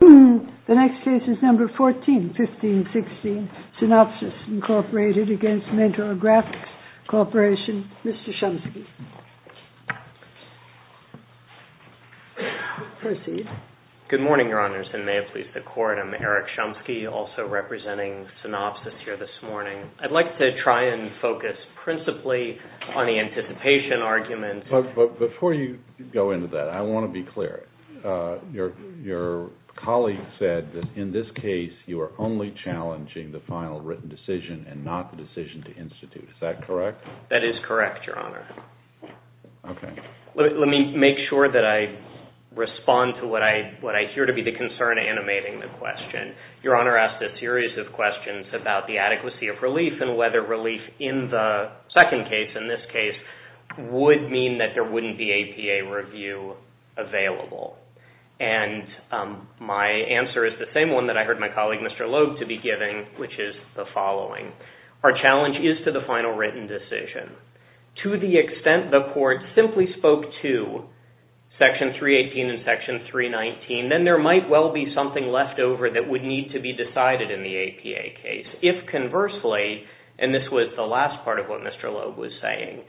The next case is Number 14-15-16, Synopsys, Inc. v. Mentor Graphics Corporation. Mr. Chomsky. Proceed. Good morning, Your Honors, and may it please the Court. I'm Eric Chomsky, also representing Synopsys here this morning. I'd like to try and focus principally on the anticipation argument. Before you go into that, I want to be clear. Your colleague said that in this case you are only challenging the final written decision and not the decision to institute. Is that correct? That is correct, Your Honor. Okay. Let me make sure that I respond to what I hear to be the concern animating the question. Your Honor asked a series of questions about the adequacy of relief and whether relief in the second case, in this case, would mean that there wouldn't be APA review available. And my answer is the same one that I heard my colleague, Mr. Loeb, to be giving, which is the following. Our challenge is to the final written decision. To the extent the Court simply spoke to Section 318 and Section 319, then there might well be something left over that would need to be decided in the APA case. If, conversely, and this was the last part of what Mr. Loeb was saying,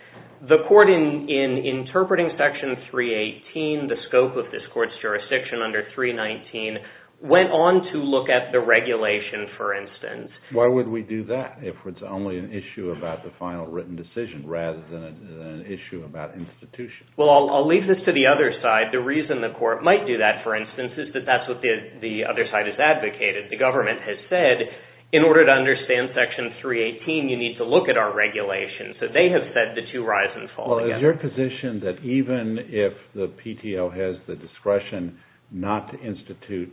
the Court in interpreting Section 318, the scope of this Court's jurisdiction under 319, went on to look at the regulation, for instance. Why would we do that if it's only an issue about the final written decision rather than an issue about institution? Well, I'll leave this to the other side. The reason the Court might do that, for instance, is that that's what the other side has advocated. The government has said, in order to understand Section 318, you need to look at our regulation. So they have said the two horizons fall together. But is your position that even if the PTO has the discretion not to institute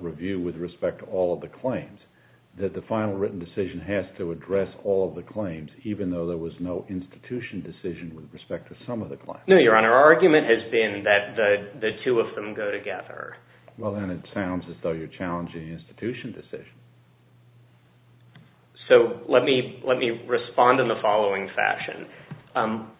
review with respect to all of the claims, that the final written decision has to address all of the claims, even though there was no institution decision with respect to some of the claims? No, Your Honor. Our argument has been that the two of them go together. Well, then it sounds as though you're challenging the institution decision. So let me respond in the following fashion.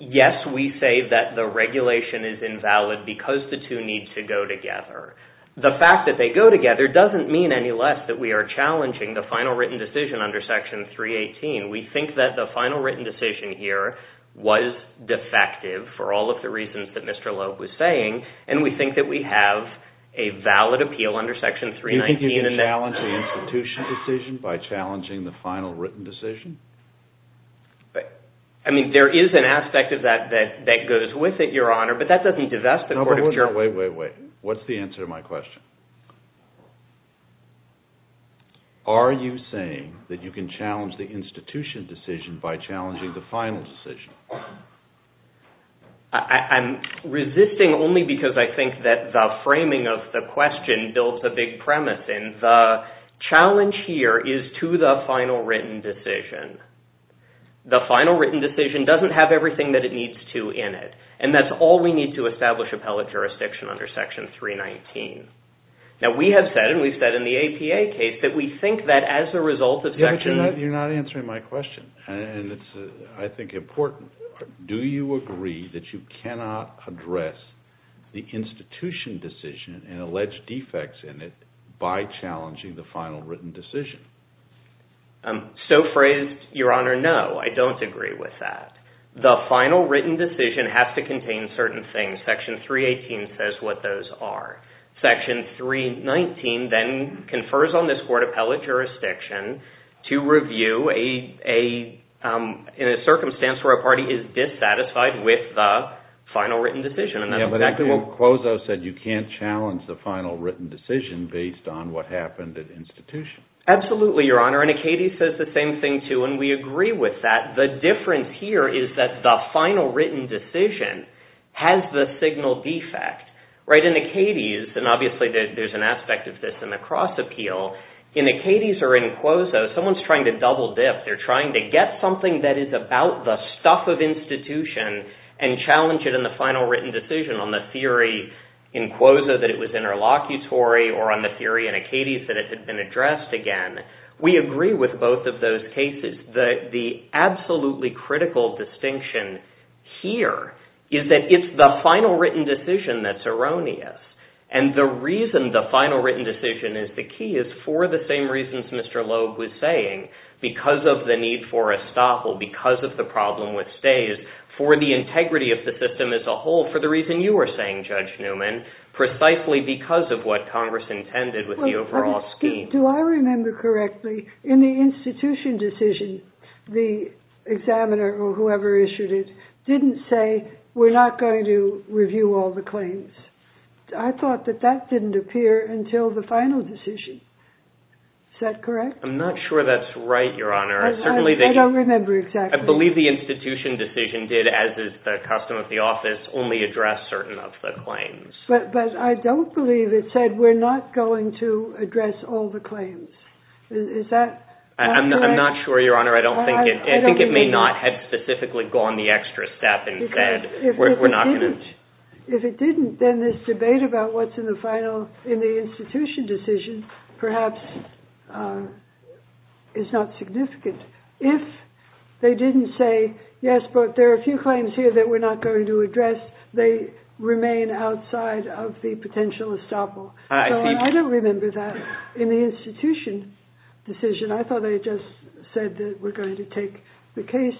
Yes, we say that the regulation is invalid because the two need to go together. The fact that they go together doesn't mean any less that we are challenging the final written decision under Section 318. We think that the final written decision here was defective for all of the reasons that Mr. Loeb was saying, and we think that we have a valid appeal under Section 319. Are you saying that you can challenge the institution decision by challenging the final written decision? I mean, there is an aspect of that that goes with it, Your Honor, but that doesn't divest the court of jurisdiction. Wait, wait, wait. What's the answer to my question? Are you saying that you can challenge the institution decision by challenging the final decision? I'm resisting only because I think that the framing of the question builds a big premise, and the challenge here is to the final written decision. The final written decision doesn't have everything that it needs to in it, and that's all we need to establish appellate jurisdiction under Section 319. Now, we have said, and we've said in the APA case, that we think that as a result of Section… Do you agree that you cannot address the institution decision and allege defects in it by challenging the final written decision? So phrased, Your Honor, no, I don't agree with that. The final written decision has to contain certain things. Section 318 says what those are. Section 319 then confers on this court appellate jurisdiction to review in a circumstance where a party is dissatisfied with the final written decision. And that's exactly what Closo said. You can't challenge the final written decision based on what happened at institution. Absolutely, Your Honor, and Acades says the same thing, too, and we agree with that. The difference here is that the final written decision has the signal defect. In Acades, and obviously there's an aspect of this in the cross appeal, in Acades or in Closo, someone's trying to double dip. They're trying to get something that is about the stuff of institution and challenge it in the final written decision on the theory in Closo that it was interlocutory or on the theory in Acades that it had been addressed again. We agree with both of those cases. The absolutely critical distinction here is that it's the final written decision that's erroneous, and the reason the final written decision is the key is for the same reasons Mr. Loeb was saying, because of the need for estoppel, because of the problem with stays, for the integrity of the system as a whole, for the reason you were saying, Judge Newman, precisely because of what Congress intended with the overall scheme. Do I remember correctly, in the institution decision, the examiner or whoever issued it didn't say, we're not going to review all the claims. I thought that that didn't appear until the final decision. Is that correct? I'm not sure that's right, Your Honor. I don't remember exactly. I believe the institution decision did, as is the custom of the office, only address certain of the claims. But I don't believe it said we're not going to address all the claims. I'm not sure, Your Honor. I think it may not have specifically gone the extra step and said we're not going to. If it didn't, then this debate about what's in the institution decision perhaps is not significant. If they didn't say, yes, but there are a few claims here that we're not going to address, they remain outside of the potential estoppel. I don't remember that in the institution decision. I thought they just said that we're going to take the case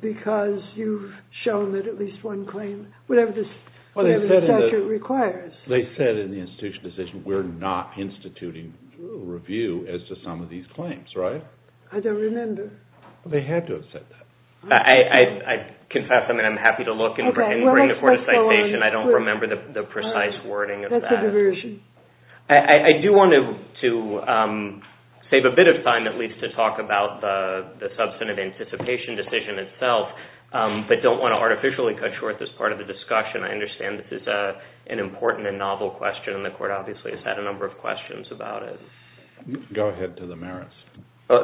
because you've shown that at least one claim, whatever the statute requires. They said in the institution decision we're not instituting review as to some of these claims, right? I don't remember. They had to have said that. I confess I'm happy to look and bring the court a citation. I don't remember the precise wording of that. I do want to save a bit of time at least to talk about the substantive anticipation decision itself, but don't want to artificially cut short this part of the discussion. I understand this is an important and novel question, and the court obviously has had a number of questions about it. Go ahead to the merits.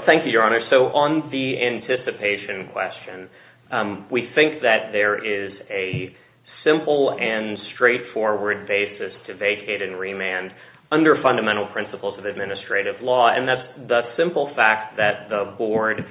Thank you, Your Honor. So on the anticipation question, we think that there is a simple and straightforward basis to vacate and remand under fundamental principles of administrative law, and that's the simple fact that the board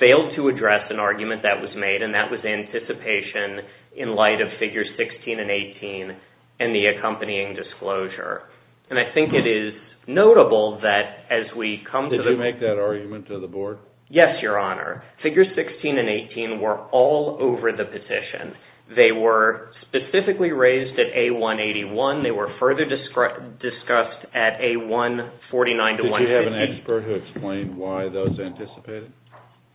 failed to address an argument that was made, and that was anticipation in light of Figures 16 and 18 and the accompanying disclosure. And I think it is notable that as we come to the- Yes, Your Honor. Figures 16 and 18 were all over the petition. They were specifically raised at A181. They were further discussed at A149-150. Did you have an expert who explained why those anticipated?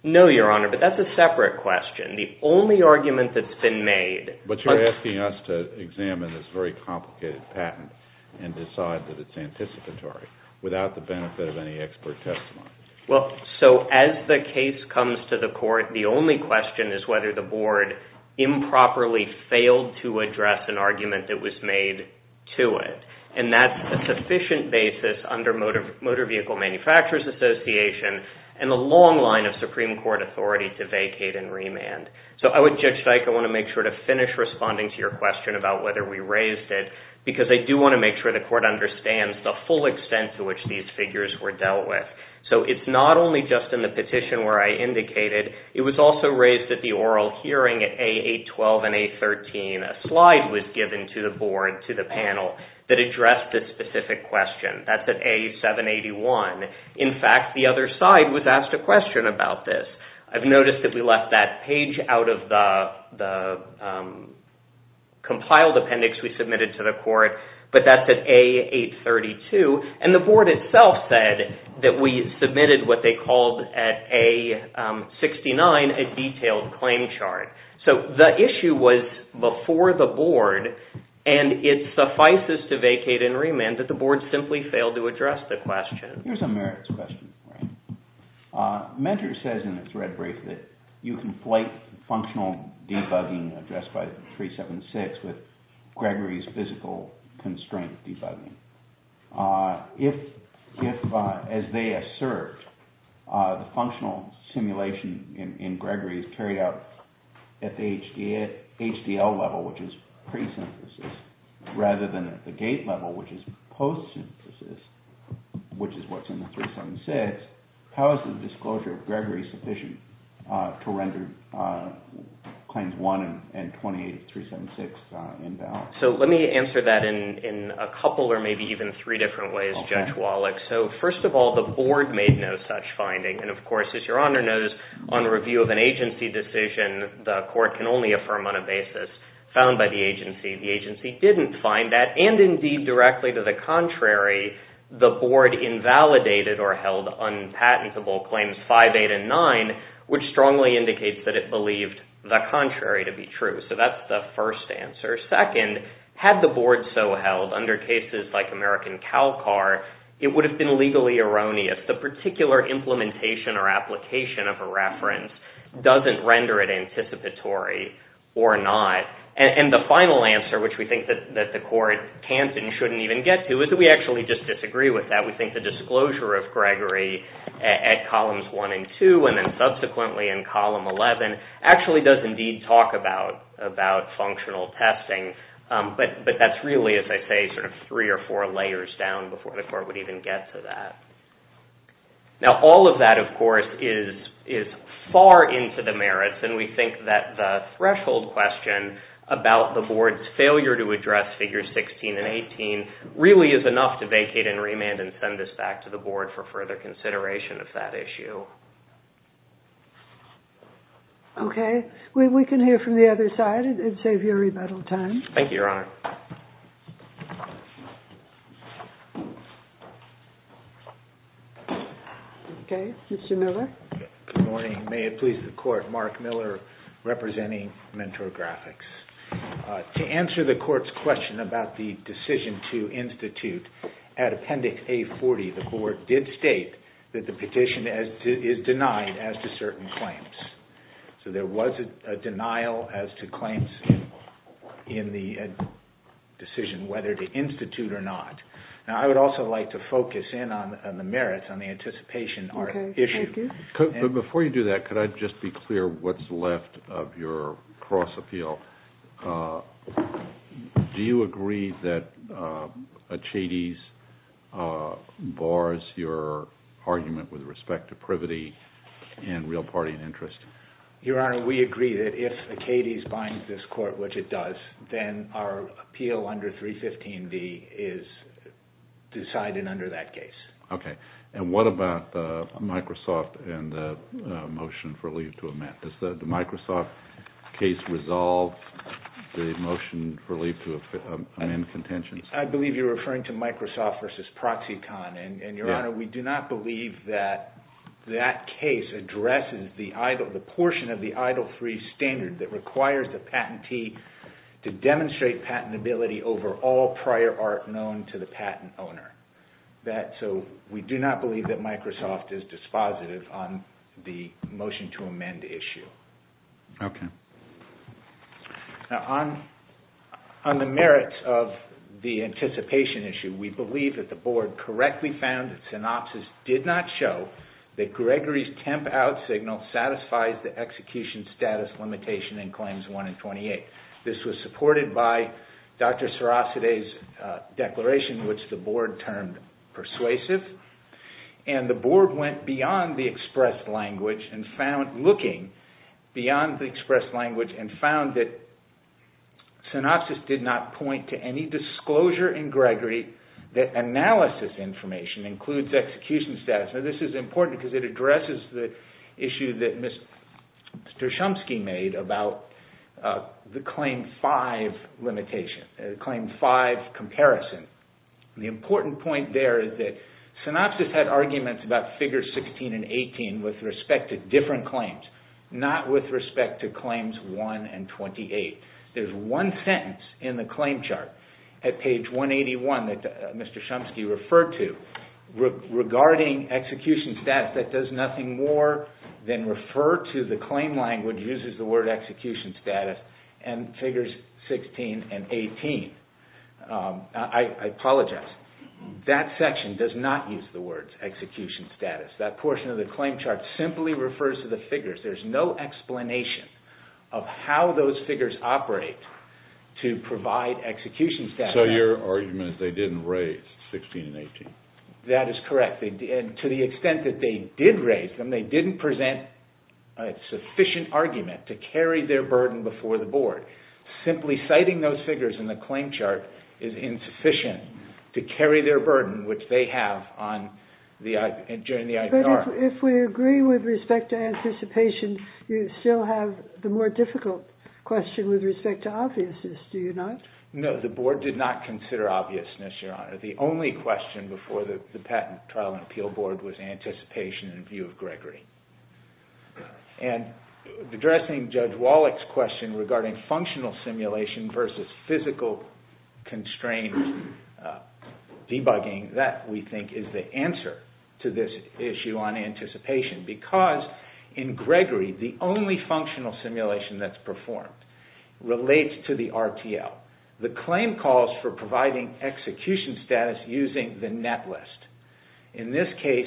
No, Your Honor, but that's a separate question. The only argument that's been made- But you're asking us to examine this very complicated patent and decide that it's anticipatory without the benefit of any expert testimony. Well, so as the case comes to the court, the only question is whether the board improperly failed to address an argument that was made to it, and that's a sufficient basis under Motor Vehicle Manufacturers Association and the long line of Supreme Court authority to vacate and remand. So I would, Judge Dike, I want to make sure to finish responding to your question about whether we raised it because I do want to make sure the court understands the full extent to which these figures were dealt with. So it's not only just in the petition where I indicated, it was also raised at the oral hearing at A812 and A13. A slide was given to the board, to the panel, that addressed this specific question. That's at A781. In fact, the other side was asked a question about this. I've noticed that we left that page out of the compiled appendix we submitted to the court, but that's at A832, and the board itself said that we submitted what they called at A69, a detailed claim chart. So the issue was before the board, and it suffices to vacate and remand that the board simply failed to address the question. Here's a merits question. Measure says in the thread brief that you conflate functional debugging addressed by 376 with Gregory's physical constraint debugging. If, as they assert, the functional simulation in Gregory is carried out at the HDL level, which is pre-synthesis, rather than at the GATE level, which is post-synthesis, which is what's in the 376, how is the disclosure of Gregory sufficient to render claims 1 and 28-376 invalid? So let me answer that in a couple or maybe even three different ways, Judge Wallach. First of all, the board made no such finding. Of course, as Your Honor knows, on review of an agency decision, the court can only affirm on a basis found by the agency. The agency didn't find that, and indeed directly to the contrary, the board invalidated or held unpatentable claims 5, 8, and 9, which strongly indicates that it believed the contrary to be true. So that's the first answer. Second, had the board so held under cases like American CalCAR, it would have been legally erroneous. The particular implementation or application of a reference doesn't render it anticipatory or not. And the final answer, which we think that the court can't and shouldn't even get to, is that we actually just disagree with that. We think the disclosure of Gregory at columns 1 and 2 and then subsequently in column 11 actually does indeed talk about functional testing, but that's really, as I say, sort of three or four layers down before the court would even get to that. Now all of that, of course, is far into the merits, and we think that the threshold question about the board's failure to address Figures 16 and 18 really is enough to vacate and remand and send this back to the board for further consideration of that issue. Okay. We can hear from the other side and save you a little time. Thank you, Your Honor. Okay. Mr. Miller. Good morning. May it please the court, Mark Miller representing Mentor Graphics. To answer the court's question about the decision to institute, at Appendix A40 the board did state that the petition is denied as to certain claims. So there was a denial as to claims in the decision whether to institute or not. Now I would also like to focus in on the merits, on the anticipation issue. Okay. Thank you. Before you do that, could I just be clear what's left of your cross appeal? Do you agree that Achates bars your argument with respect to privity and real party interest? Your Honor, we agree that if Achates binds this court, which it does, then our appeal under 315B is decided under that case. Okay. And what about Microsoft and the motion for leave to amend? Does the Microsoft case resolve the motion for leave to amend contentions? I believe you're referring to Microsoft versus ProxyCon. Your Honor, we do not believe that that case addresses the portion of the EIDL3 standard that requires the patentee to demonstrate patentability over all prior art known to the patent owner. So we do not believe that Microsoft is dispositive on the motion to amend issue. Okay. Now on the merits of the anticipation issue, we believe that the board correctly found that synopsis did not show that Gregory's temp out signal satisfies the execution status limitation in claims 1 and 28. This was supported by Dr. Sarasate's declaration, which the board termed persuasive. And the board went beyond the expressed language and found, looking beyond the expressed language, and found that synopsis did not point to any disclosure in Gregory that analysis information includes execution status. Now this is important because it addresses the issue that Mr. Shumsky made about the claim 5 limitation, claim 5 comparison. The important point there is that synopsis had arguments about figures 16 and 18 with respect to different claims, not with respect to claims 1 and 28. There's one sentence in the claim chart at page 181 that Mr. Shumsky referred to regarding execution status that does nothing more than refer to the claim language uses the word execution status and figures 16 and 18. I apologize. That section does not use the words execution status. That portion of the claim chart simply refers to the figures. There's no explanation of how those figures operate to provide execution status. So your argument is they didn't raise 16 and 18? That is correct. To the extent that they did raise them, they didn't present a sufficient argument to carry their burden before the board. Simply citing those figures in the claim chart is insufficient to carry their burden, which they have during the IPR. But if we agree with respect to anticipation, you still have the more difficult question with respect to obviousness, do you not? No, the board did not consider obviousness, Your Honor. The only question before the patent trial and appeal board was anticipation in view of Gregory. Addressing Judge Wallach's question regarding functional simulation versus physical constraint debugging, that we think is the answer to this issue on anticipation because in Gregory, the only functional simulation that's performed relates to the RTL. The claim calls for providing execution status using the netlist. In this case,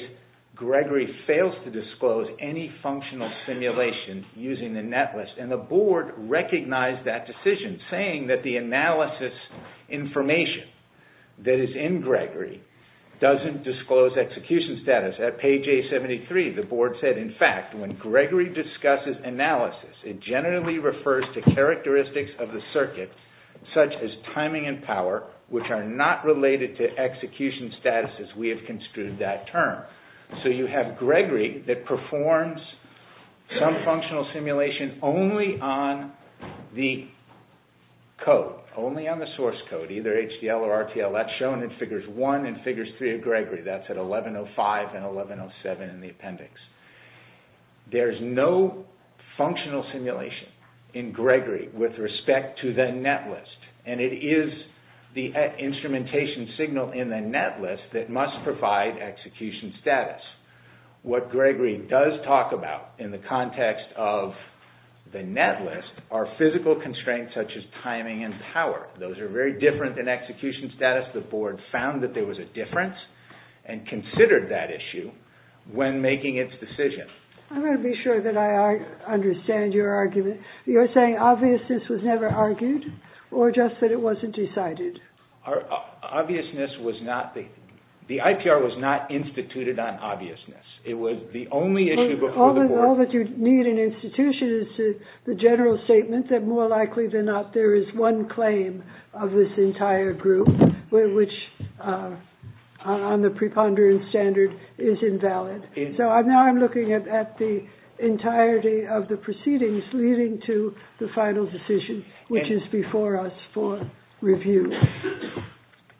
Gregory fails to disclose any functional simulation using the netlist, and the board recognized that decision, saying that the analysis information that is in Gregory doesn't disclose execution status. At page A73, the board said, in fact, when Gregory discusses analysis, it generally refers to characteristics of the circuit, such as timing and power, which are not related to execution status as we have construed that term. So you have Gregory that performs some functional simulation only on the code, only on the source code, either HDL or RTL. That's shown in Figures 1 and Figures 3 of Gregory. That's at 1105 and 1107 in the appendix. There's no functional simulation in Gregory with respect to the netlist, and it is the instrumentation signal in the netlist that must provide execution status. What Gregory does talk about in the context of the netlist are physical constraints such as timing and power. Those are very different than execution status. The board found that there was a difference and considered that issue when making its decision. I want to be sure that I understand your argument. You're saying obviousness was never argued or just that it wasn't decided? The IPR was not instituted on obviousness. It was the only issue before the board. All that you need in institution is the general statement that more likely than not there is one claim of this entire group, which on the preponderance standard is invalid. So now I'm looking at the entirety of the proceedings leading to the final decision, which is before us for review.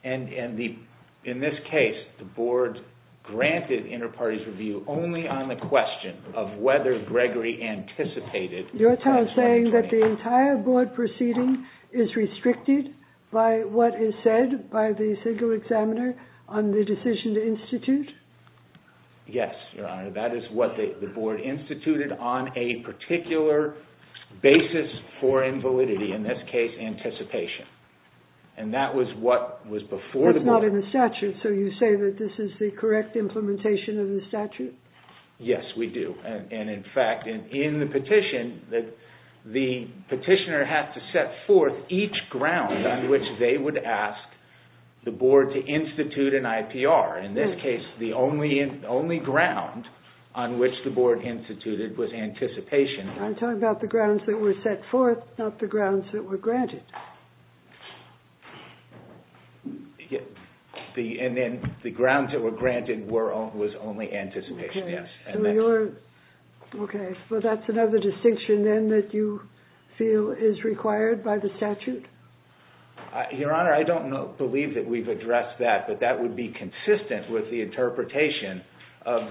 In this case, the board granted inter-parties review only on the question of whether Gregory anticipated... You're saying that the entire board proceeding is restricted by what is instituted? Yes, Your Honor. That is what the board instituted on a particular basis for invalidity, in this case anticipation. And that was what was before the board. That's not in the statute. So you say that this is the correct implementation of the statute? Yes, we do. In fact, in the petition, the petitioner had to set forth each ground on which they would ask the board to institute an IPR. In this case, the only ground on which the board instituted was anticipation. I'm talking about the grounds that were set forth, not the grounds that were granted. And then the grounds that were granted was only anticipation, yes. Okay. So that's another distinction then that you feel is required by the statute? Your Honor, I don't believe that we've addressed that, but that would be consistent with the interpretation of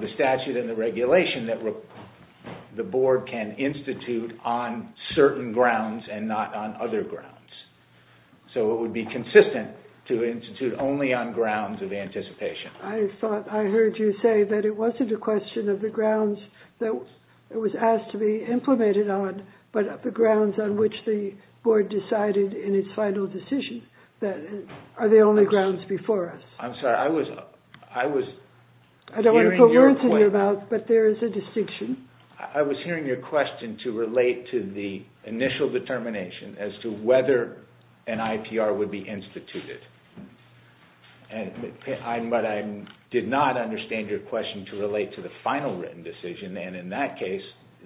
the statute and the regulation that the board can institute on certain grounds and not on other grounds. So it would be consistent to institute only on grounds of anticipation. I thought I heard you say that it wasn't a question of the grounds that it was asked to be implemented on, but the grounds on which the board decided in its final decision are the only grounds before us. I'm sorry, I was hearing your question. I don't want to put words in your mouth, but there is a distinction. I was hearing your question to relate to the initial determination as to whether an IPR would be instituted. But I did not understand your question to relate to the final written decision, and in that case,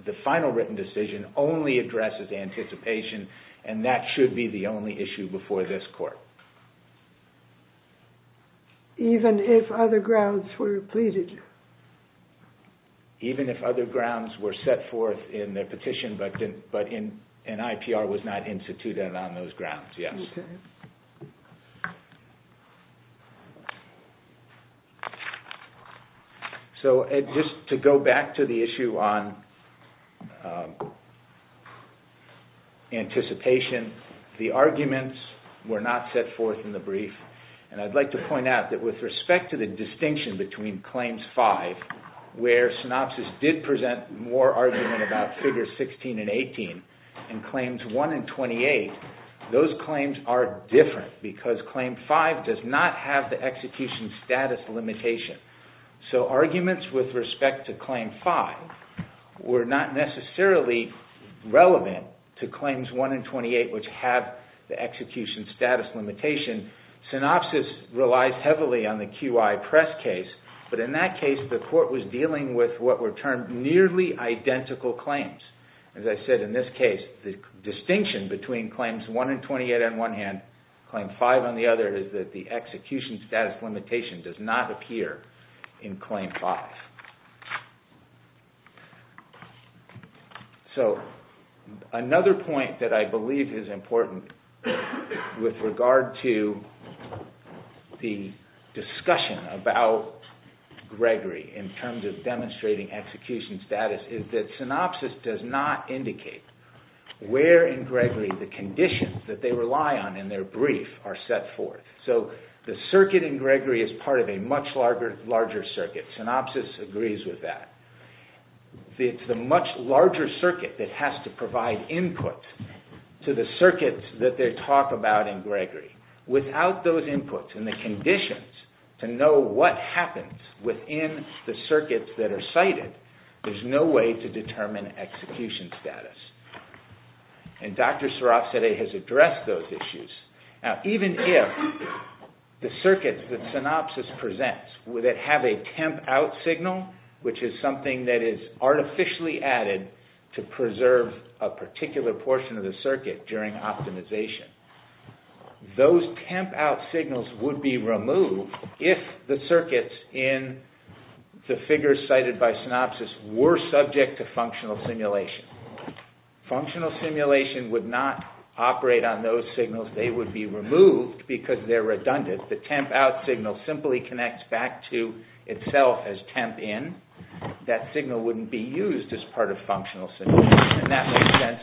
the final written decision only addresses anticipation, and that should be the only issue before this court. Even if other grounds were pleaded? Even if other grounds were set forth in the petition, but an IPR was not instituted on those grounds, yes. Okay. So just to go back to the issue on anticipation, the arguments were not set forth in the brief, and I'd like to point out that with respect to the distinction between Claims 5, where Synopsys did present more argument about Figures 16 and 18, and Claims 1 and 28, those claims are different because Claim 5 does not have the execution status limitation. So arguments with respect to Claim 5 were not necessarily relevant to Claims 1 and 28, which have the execution status limitation. Synopsys relies heavily on the QI Press case, but in that case, the court was dealing with what were termed nearly identical claims. As I said, in this case, the distinction between Claims 1 and 28, on one hand, and Claim 5 on the other, is that the execution status limitation does not appear in Claim 5. So another point that I believe is important with regard to the discussion about Gregory in terms of demonstrating execution status is that Synopsys does not indicate where in Gregory the conditions that they rely on in their brief are set forth. So the circuit in Gregory is part of a much larger circuit. Synopsys agrees with that. It's the much larger circuit that has to provide input to the circuits that they talk about in Gregory. Without those inputs and the conditions to know what happens within the circuits that are cited, there's no way to determine execution status. And Dr. Sirafzadeh has addressed those issues. Now, even if the circuits that Synopsys presents, that have a temp-out signal, which is something that is artificially added to preserve a particular portion of the circuit during optimization, those temp-out signals would be removed if the circuits in the figures cited by Synopsys were subject to functional simulation. Functional simulation would not operate on those signals. They would be removed because they're redundant. The temp-out signal simply connects back to itself as temp-in. That signal wouldn't be used as part of functional simulation. And that makes sense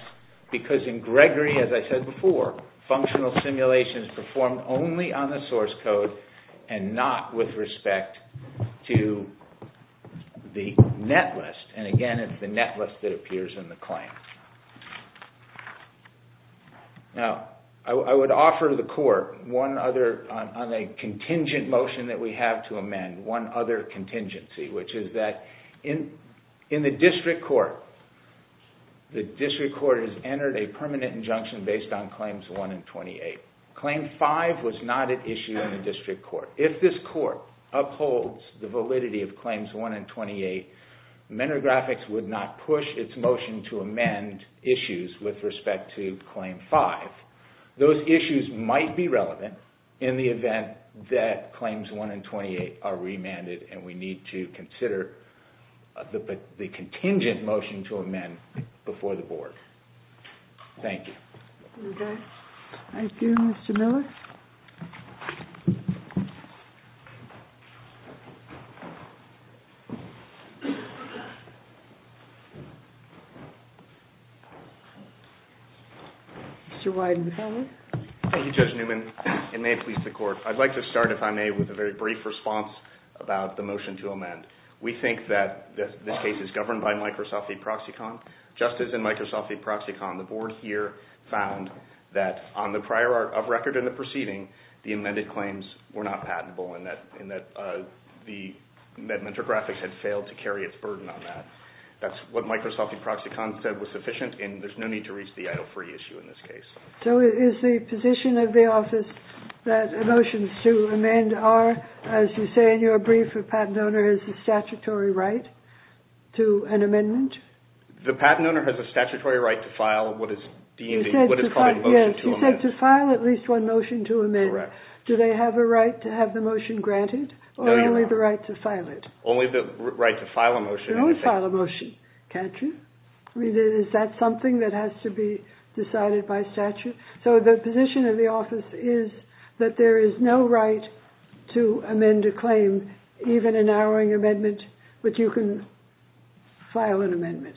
because in Gregory, as I said before, functional simulation is performed only on the source code and not with respect to the net list. And again, it's the net list that appears in the claim. Now, I would offer the court one other contingent motion that we have to amend, one other contingency, which is that in the district court, the district court has entered a permanent injunction based on Claims 1 and 28. Claim 5 was not an issue in the district court. If this court upholds the validity of Claims 1 and 28, Menro Graphics would not push its motion to amend issues with respect to Claim 5. Those issues might be relevant in the event that Claims 1 and 28 are remanded and we need to consider the contingent motion to amend before the board. Thank you. Thank you. Thank you, Mr. Miller. Mr. Wyden. Thank you, Judge Newman. It may please the court. I'd like to start, if I may, with a very brief response about the motion to amend. We think that this case is governed by Microsoft E-Proxicon. Just as in Microsoft E-Proxicon, the board here found that on the prior art of record in the proceeding, the amended claims were not patentable and that Menro Graphics had failed to carry its burden on that. That's what Microsoft E-Proxicon said was sufficient and there's no need to reach the Idle Free issue in this case. Is the position of the office that a motion to amend are, as you say in your brief, a patent owner has a statutory right to an amendment? The patent owner has a statutory right to file what is deemed what is called a motion to amend. Yes, he said to file at least one motion to amend. Correct. Do they have a right to have the motion granted? No, you don't. Or only the right to file it? Only the right to file a motion. You don't file a motion, can't you? I mean, is that something that has to be decided by statute? So the position of the office is that there is no right to amend a claim, even a narrowing amendment, which you can file an amendment.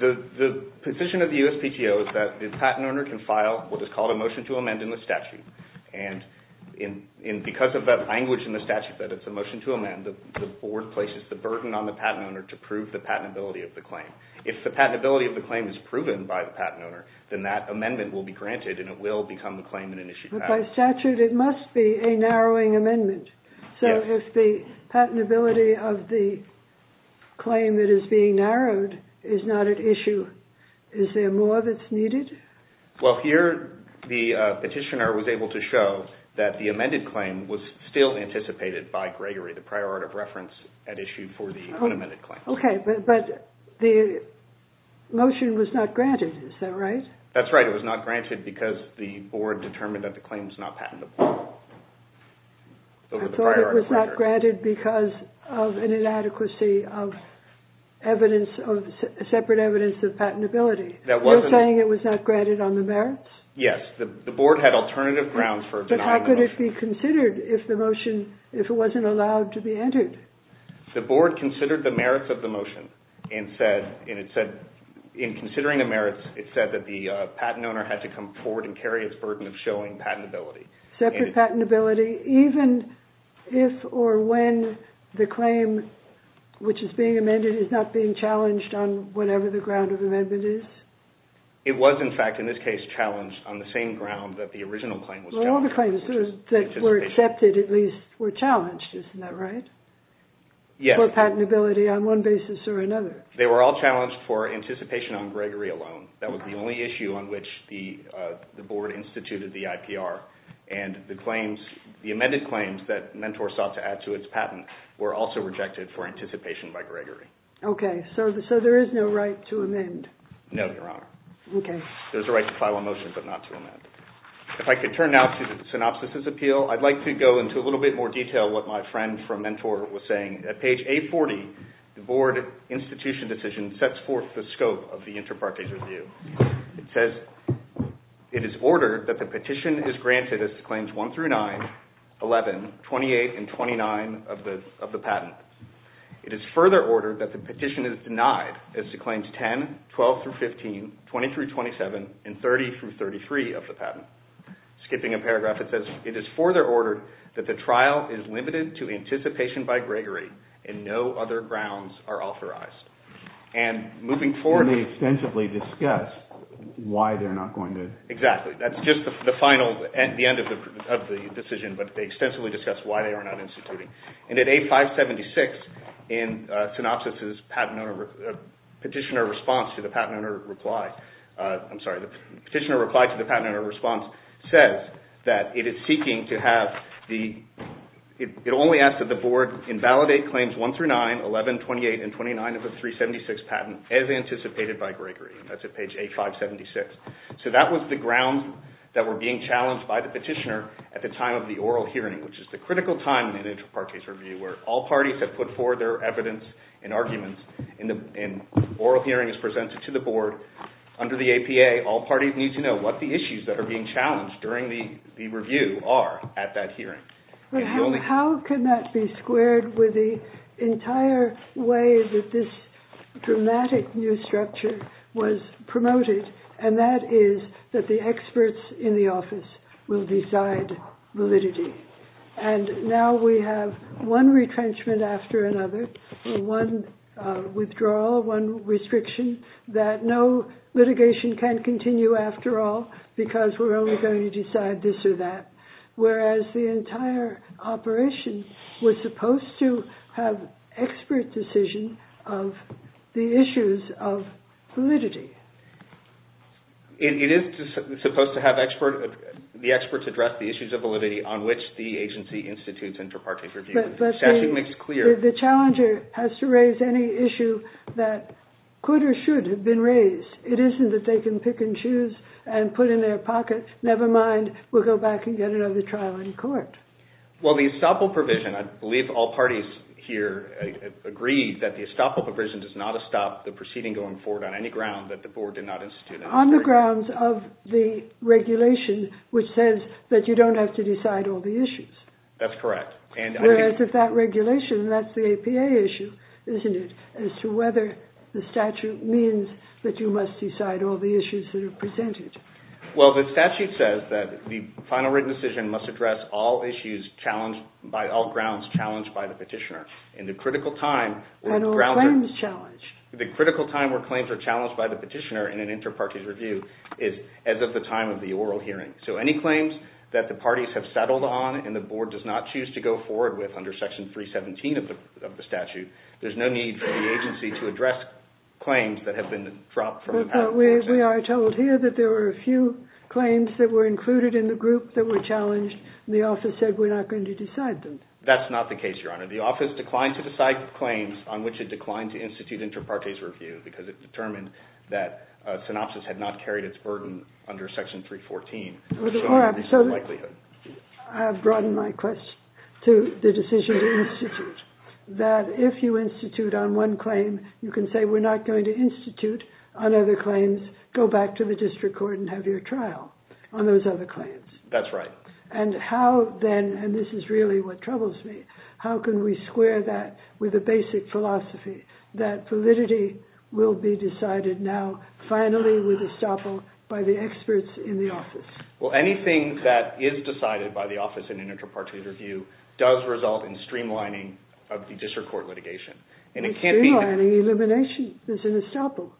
The position of the USPTO is that the patent owner can file what is called a motion to amend in the statute. And because of that language in the statute, that it's a motion to amend, the board places the burden on the patent owner to prove the patentability of the claim. If the patentability of the claim is proven by the patent owner, then that amendment will be granted and it will become the claim in an issue. But by statute, it must be a narrowing amendment. Yes. So if the patentability of the claim that is being narrowed is not at issue, is there more that's needed? Well, here the petitioner was able to show that the amended claim was still anticipated by Gregory, the prior art of reference at issue for the unamended claim. Okay, but the motion was not granted, is that right? That's right. It was not granted because the board determined that the claim is not patentable. I thought it was not granted because of an inadequacy of separate evidence of patentability. You're saying it was not granted on the merits? Yes. The board had alternative grounds for denying the motion. But how could it be considered if it wasn't allowed to be entered? The board considered the merits of the motion and it said, in considering the merits, it said that the patent owner had to come forward and carry its burden of showing patentability. Separate patentability, even if or when the claim which is being amended is not being challenged on whatever the ground of amendment is? It was, in fact, in this case, challenged on the same ground that the original claim was challenged on. Well, all the claims that were accepted, at least, were challenged, isn't that right? Yes. For patentability on one basis or another. They were all challenged for anticipation on Gregory alone. That was the only issue on which the board instituted the IPR. And the amended claims that Mentor sought to add to its patent were also rejected for anticipation by Gregory. Okay. So there is no right to amend? No, Your Honor. Okay. There's a right to file a motion but not to amend. If I could turn now to the synopsis of the appeal, I'd like to go into a little bit more detail of what my friend from Mentor was saying. At page 840, the board institution decision sets forth the scope of the inter partes review. It says, it is ordered that the petition is granted as to Claims 1-9, 11, 28, and 29 of the patent. It is further ordered that the petition is denied as to Claims 10, 12-15, 20-27, and 30-33 of the patent. Skipping a paragraph, it says, it is further ordered that the trial is limited to anticipation by Gregory and no other grounds are authorized. And moving forward... And they extensively discuss why they're not going to... Exactly. That's just the final, the end of the decision, but they extensively discuss why they are not instituting. And at A576, in synopsis's petitioner response to the patent owner reply, I'm sorry, the petitioner reply to the patent owner response says that it is seeking to have the... It only asks that the board invalidate Claims 1-9, 11, 28, and 29 of the 376 patent as anticipated by Gregory. That's at page A576. So that was the ground that were being challenged by the petitioner at the time of the oral hearing, which is the critical time in inter partes review where all parties have put forward their evidence and arguments and oral hearing is presented to the board. Under the APA, all parties need to know what the issues that are being challenged during the review are at that hearing. How can that be squared with the entire way that this dramatic new structure was promoted and that is that the experts in the office will decide validity. And now we have one retrenchment after another, one withdrawal, one restriction that no litigation can continue after all because we're only going to decide this or that. Whereas the entire operation was supposed to have expert decision of the issues of validity. It is supposed to have the experts address the issues of validity on which the agency institutes inter partes review. But the challenger has to raise any issue that could or should have been raised. It isn't that they can pick and choose and put in their pocket, never mind, we'll go back and get another trial in court. Well, the estoppel provision, I believe all parties here agree that the estoppel provision does not stop the proceeding going forward on any ground that the board did not institute. On the grounds of the regulation which says that you don't have to decide all the issues. That's correct. Whereas if that regulation, that's the APA issue, isn't it, as to whether the statute means that you must decide all the issues that are presented. Well, the statute says that the final written decision must address all issues challenged, by all grounds challenged by the petitioner. And the critical time... And all claims challenged. The critical time where claims are challenged by the petitioner in an inter partes review is as of the time of the oral hearing. So any claims that the parties have settled on and the board does not choose to go forward with under section 317 of the statute, there's no need for the agency to address claims that have been dropped from the... But we are told here that there were a few claims that were included in the group that were challenged and the office said we're not going to decide them. That's not the case, Your Honor. The office declined to decide the claims on which it declined to institute inter partes review because it determined that synopsis had not carried its burden under section 314. I have broadened my question to the decision to institute. That if you institute on one claim, you can say we're not going to institute on other claims, go back to the district court and have your trial on those other claims. That's right. And how then, and this is really what troubles me, how can we square that with a basic philosophy that validity will be decided now finally with estoppel by the experts in the office? Well, anything that is decided by the office in inter partes review does result in streamlining of the district court litigation. It's streamlining elimination. There's an estoppel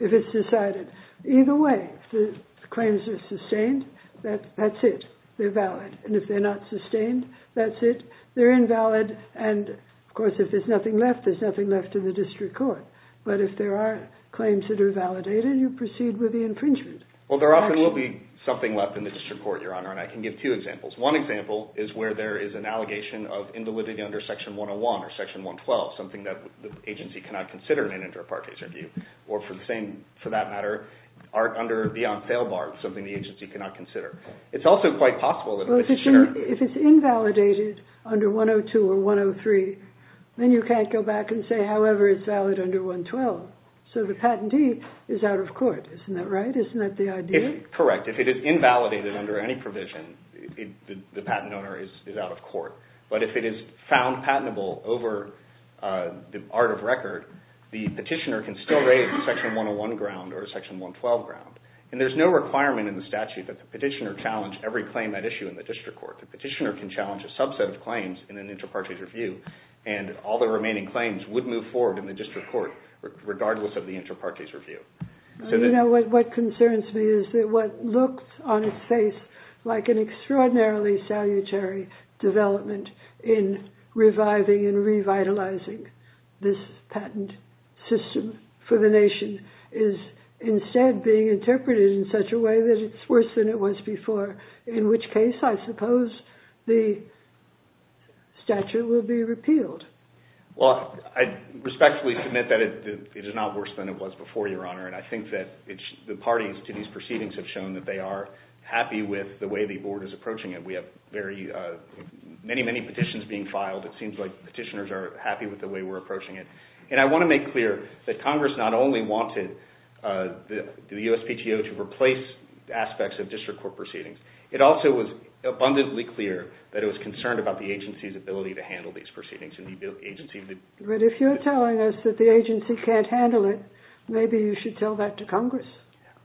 if it's decided. Either way, if the claims are sustained, that's it. They're valid. And if they're not sustained, that's it. They're invalid. And of course, if there's nothing left, there's nothing left in the district court. But if there are claims that are validated, you proceed with the infringement. Well, there often will be something left in the district court, Your Honor, and I can give two examples. One example is where there is an allegation of invalidity under section 101 or section 112, something that the agency cannot consider in an inter partes review. Or for the same, for that matter, art under the on sale bar, something the agency cannot consider. It's also quite possible that a missionary If it's invalidated under 102 or 103, then you can't go back and say, however, it's valid under 112. So the patentee is out of court. Isn't that right? Isn't that the idea? Correct. If it is invalidated under any provision, the patent owner is out of court. But if it is found patentable over the art of record, the petitioner can still raise a section 101 ground or a section 112 ground. And there's no requirement in the statute that the petitioner challenge every claim at issue in the district court. The petitioner can challenge a subset of claims in an inter partes review, and all the remaining claims would move forward in the district court, regardless of the inter partes review. What concerns me is that what looked on its face like an extraordinarily salutary development in reviving and revitalizing this patent system for the nation is instead being interpreted in such a way that it's worse than it was before. In which case, I suppose, the statute will be repealed. Well, I respectfully submit that it is not worse than it was before, Your Honor. And I think that the parties to these proceedings have shown that they are happy with the way the board is approaching it. We have many, many petitions being filed. It seems like petitioners are happy with the way we're approaching it. And I want to make clear that Congress not only wanted the USPTO to replace aspects of district court proceedings, it also was abundantly clear that it was concerned about the agency's ability to handle these proceedings. But if you're telling us that the agency can't handle it, maybe you should tell that to Congress.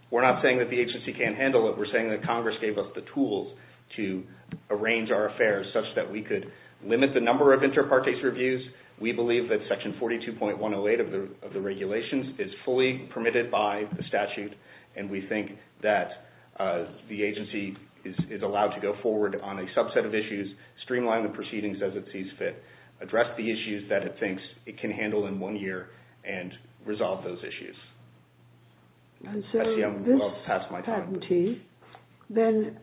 We're not saying that the agency can't handle it. We're saying that Congress gave us the tools to arrange our affairs such that we could limit the number of inter partes reviews. We believe that section 42.108 of the regulations is fully permitted by the statute. And we think that the agency is allowed to go forward on a subset of issues, streamline the proceedings as it sees fit, address the issues that it thinks it can handle in one year, and resolve those issues. I see I'm well past my time. This patentee then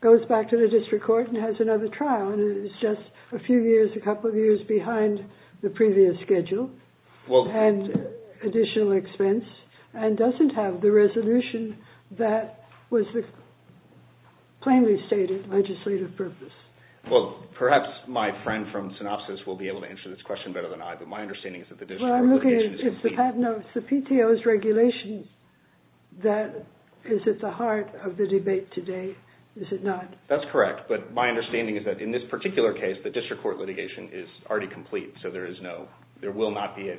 goes back to the district court and has another trial, and it's just a few years, a couple of years behind the previous schedule, and additional expense, and doesn't have the resolution that was the plainly stated legislative purpose. Well, perhaps my friend from Synopsys will be able to answer this question better than I, but my understanding is that the district court litigation... Well, I'm looking at the patent notice, the PTO's regulation that is at the heart of the debate today, is it not? That's correct, but my understanding is that in this particular case, the district court litigation is already complete, so there is no, there will not be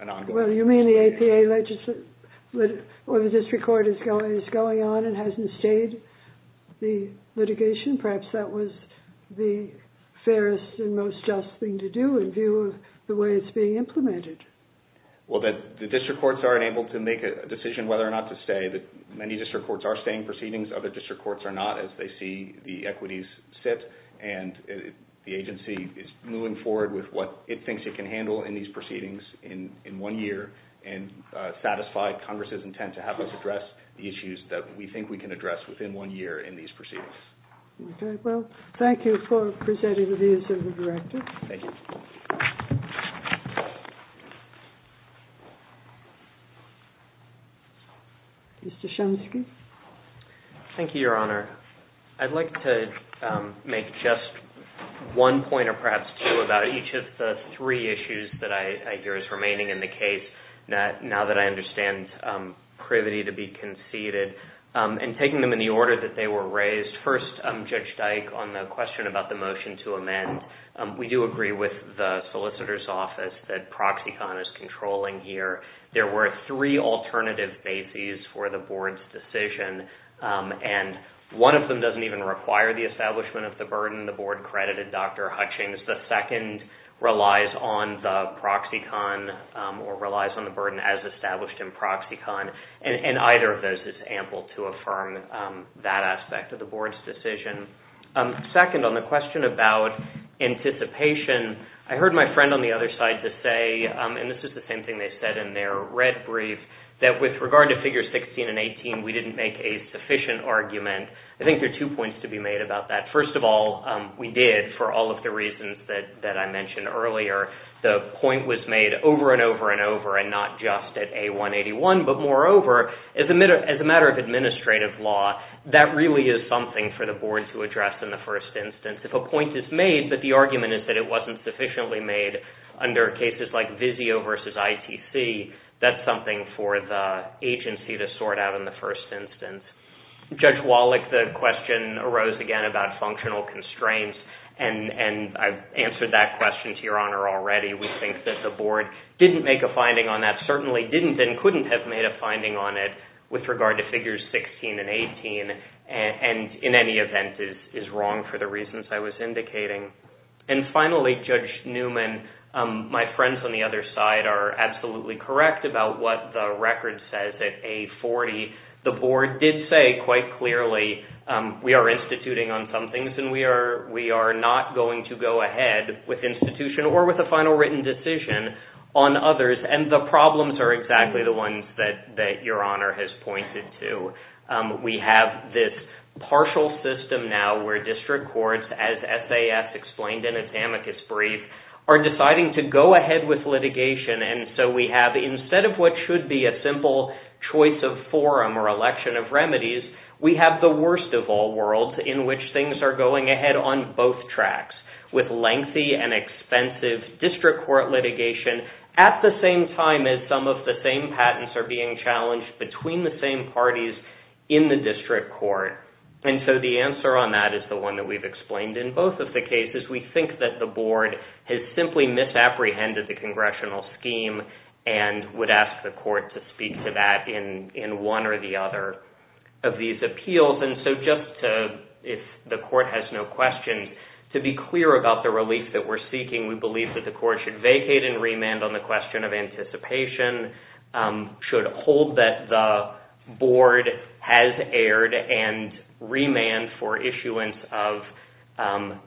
an ongoing... Well, you mean the APA or the district court is going on and hasn't stayed the litigation? Perhaps that was the fairest and most just thing to do in view of the way it's being implemented. Well, the district courts aren't able to make a decision whether or not to stay. Many district courts are staying proceedings. Other district courts are not, as they see the equities sit, and the agency is moving forward with what it thinks it can handle in these proceedings in one year, and satisfied Congress's intent to have us address the issues that we think we can address within one year in these proceedings. Okay, well, thank you for presenting the views of the director. Thank you. Mr. Shumsky? Thank you, Your Honor. I'd like to make just one point, or perhaps two, about each of the three issues that I hear is remaining in the case, now that I understand privity to be conceded, and taking them in the order that they were raised. First, Judge Dyke, on the question about the motion to amend, we do agree with the solicitor's office that ProxyCon is controlling here. There were three alternative bases for the board's decision, and one of them doesn't even require the establishment of the burden. The board credited Dr. Hutchings. The second relies on the ProxyCon, or relies on the burden as established in ProxyCon, and either of those is ample to affirm that aspect of the board's decision. Second, on the question about anticipation, I heard my friend on the other side just say, and this is the same thing they said in their red brief, that with regard to Figures 16 and 18, we didn't make a sufficient argument. I think there are two points to be made about that. First of all, we did, for all of the reasons that I mentioned earlier. The point was made over and over and over, and not just at A181, but moreover, as a matter of administrative law, that really is something for the board to address in the first instance. If a point is made, but the argument is that it wasn't sufficiently made under cases like VIZIO versus ITC, that's something for the agency to sort out in the first instance. Judge Wallach, the question arose again about functional constraints, and I've answered that question to your honor already. We think that the board didn't make a finding on that, or certainly didn't and couldn't have made a finding on it with regard to Figures 16 and 18, and in any event is wrong for the reasons I was indicating. And finally, Judge Newman, my friends on the other side are absolutely correct about what the record says at A40. The board did say quite clearly, we are instituting on some things and we are not going to go ahead with institution or with a final written decision on others, and the problems are exactly the ones that your honor has pointed to. We have this partial system now where district courts, as SAS explained in its amicus brief, are deciding to go ahead with litigation, and so we have, instead of what should be a simple choice of forum or election of remedies, we have the worst of all worlds in which things are going ahead on both tracks, with lengthy and expensive district court litigation at the same time as some of the same patents are being challenged between the same parties in the district court. And so the answer on that is the one that we've explained. In both of the cases, we think that the board has simply misapprehended the congressional scheme and would ask the court to speak to that in one or the other of these appeals. And so just to, if the court has no questions, to be clear about the relief that we're seeking, we believe that the court should vacate and remand on the question of anticipation, should hold that the board has erred, and remand for issuance of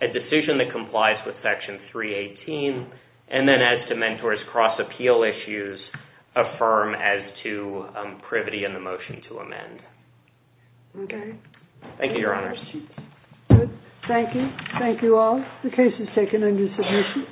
a decision that complies with Section 318, and then as to mentors cross-appeal issues, affirm as to privity in the motion to amend. Thank you, your honors. Thank you. Thank you all. The case is taken under submission.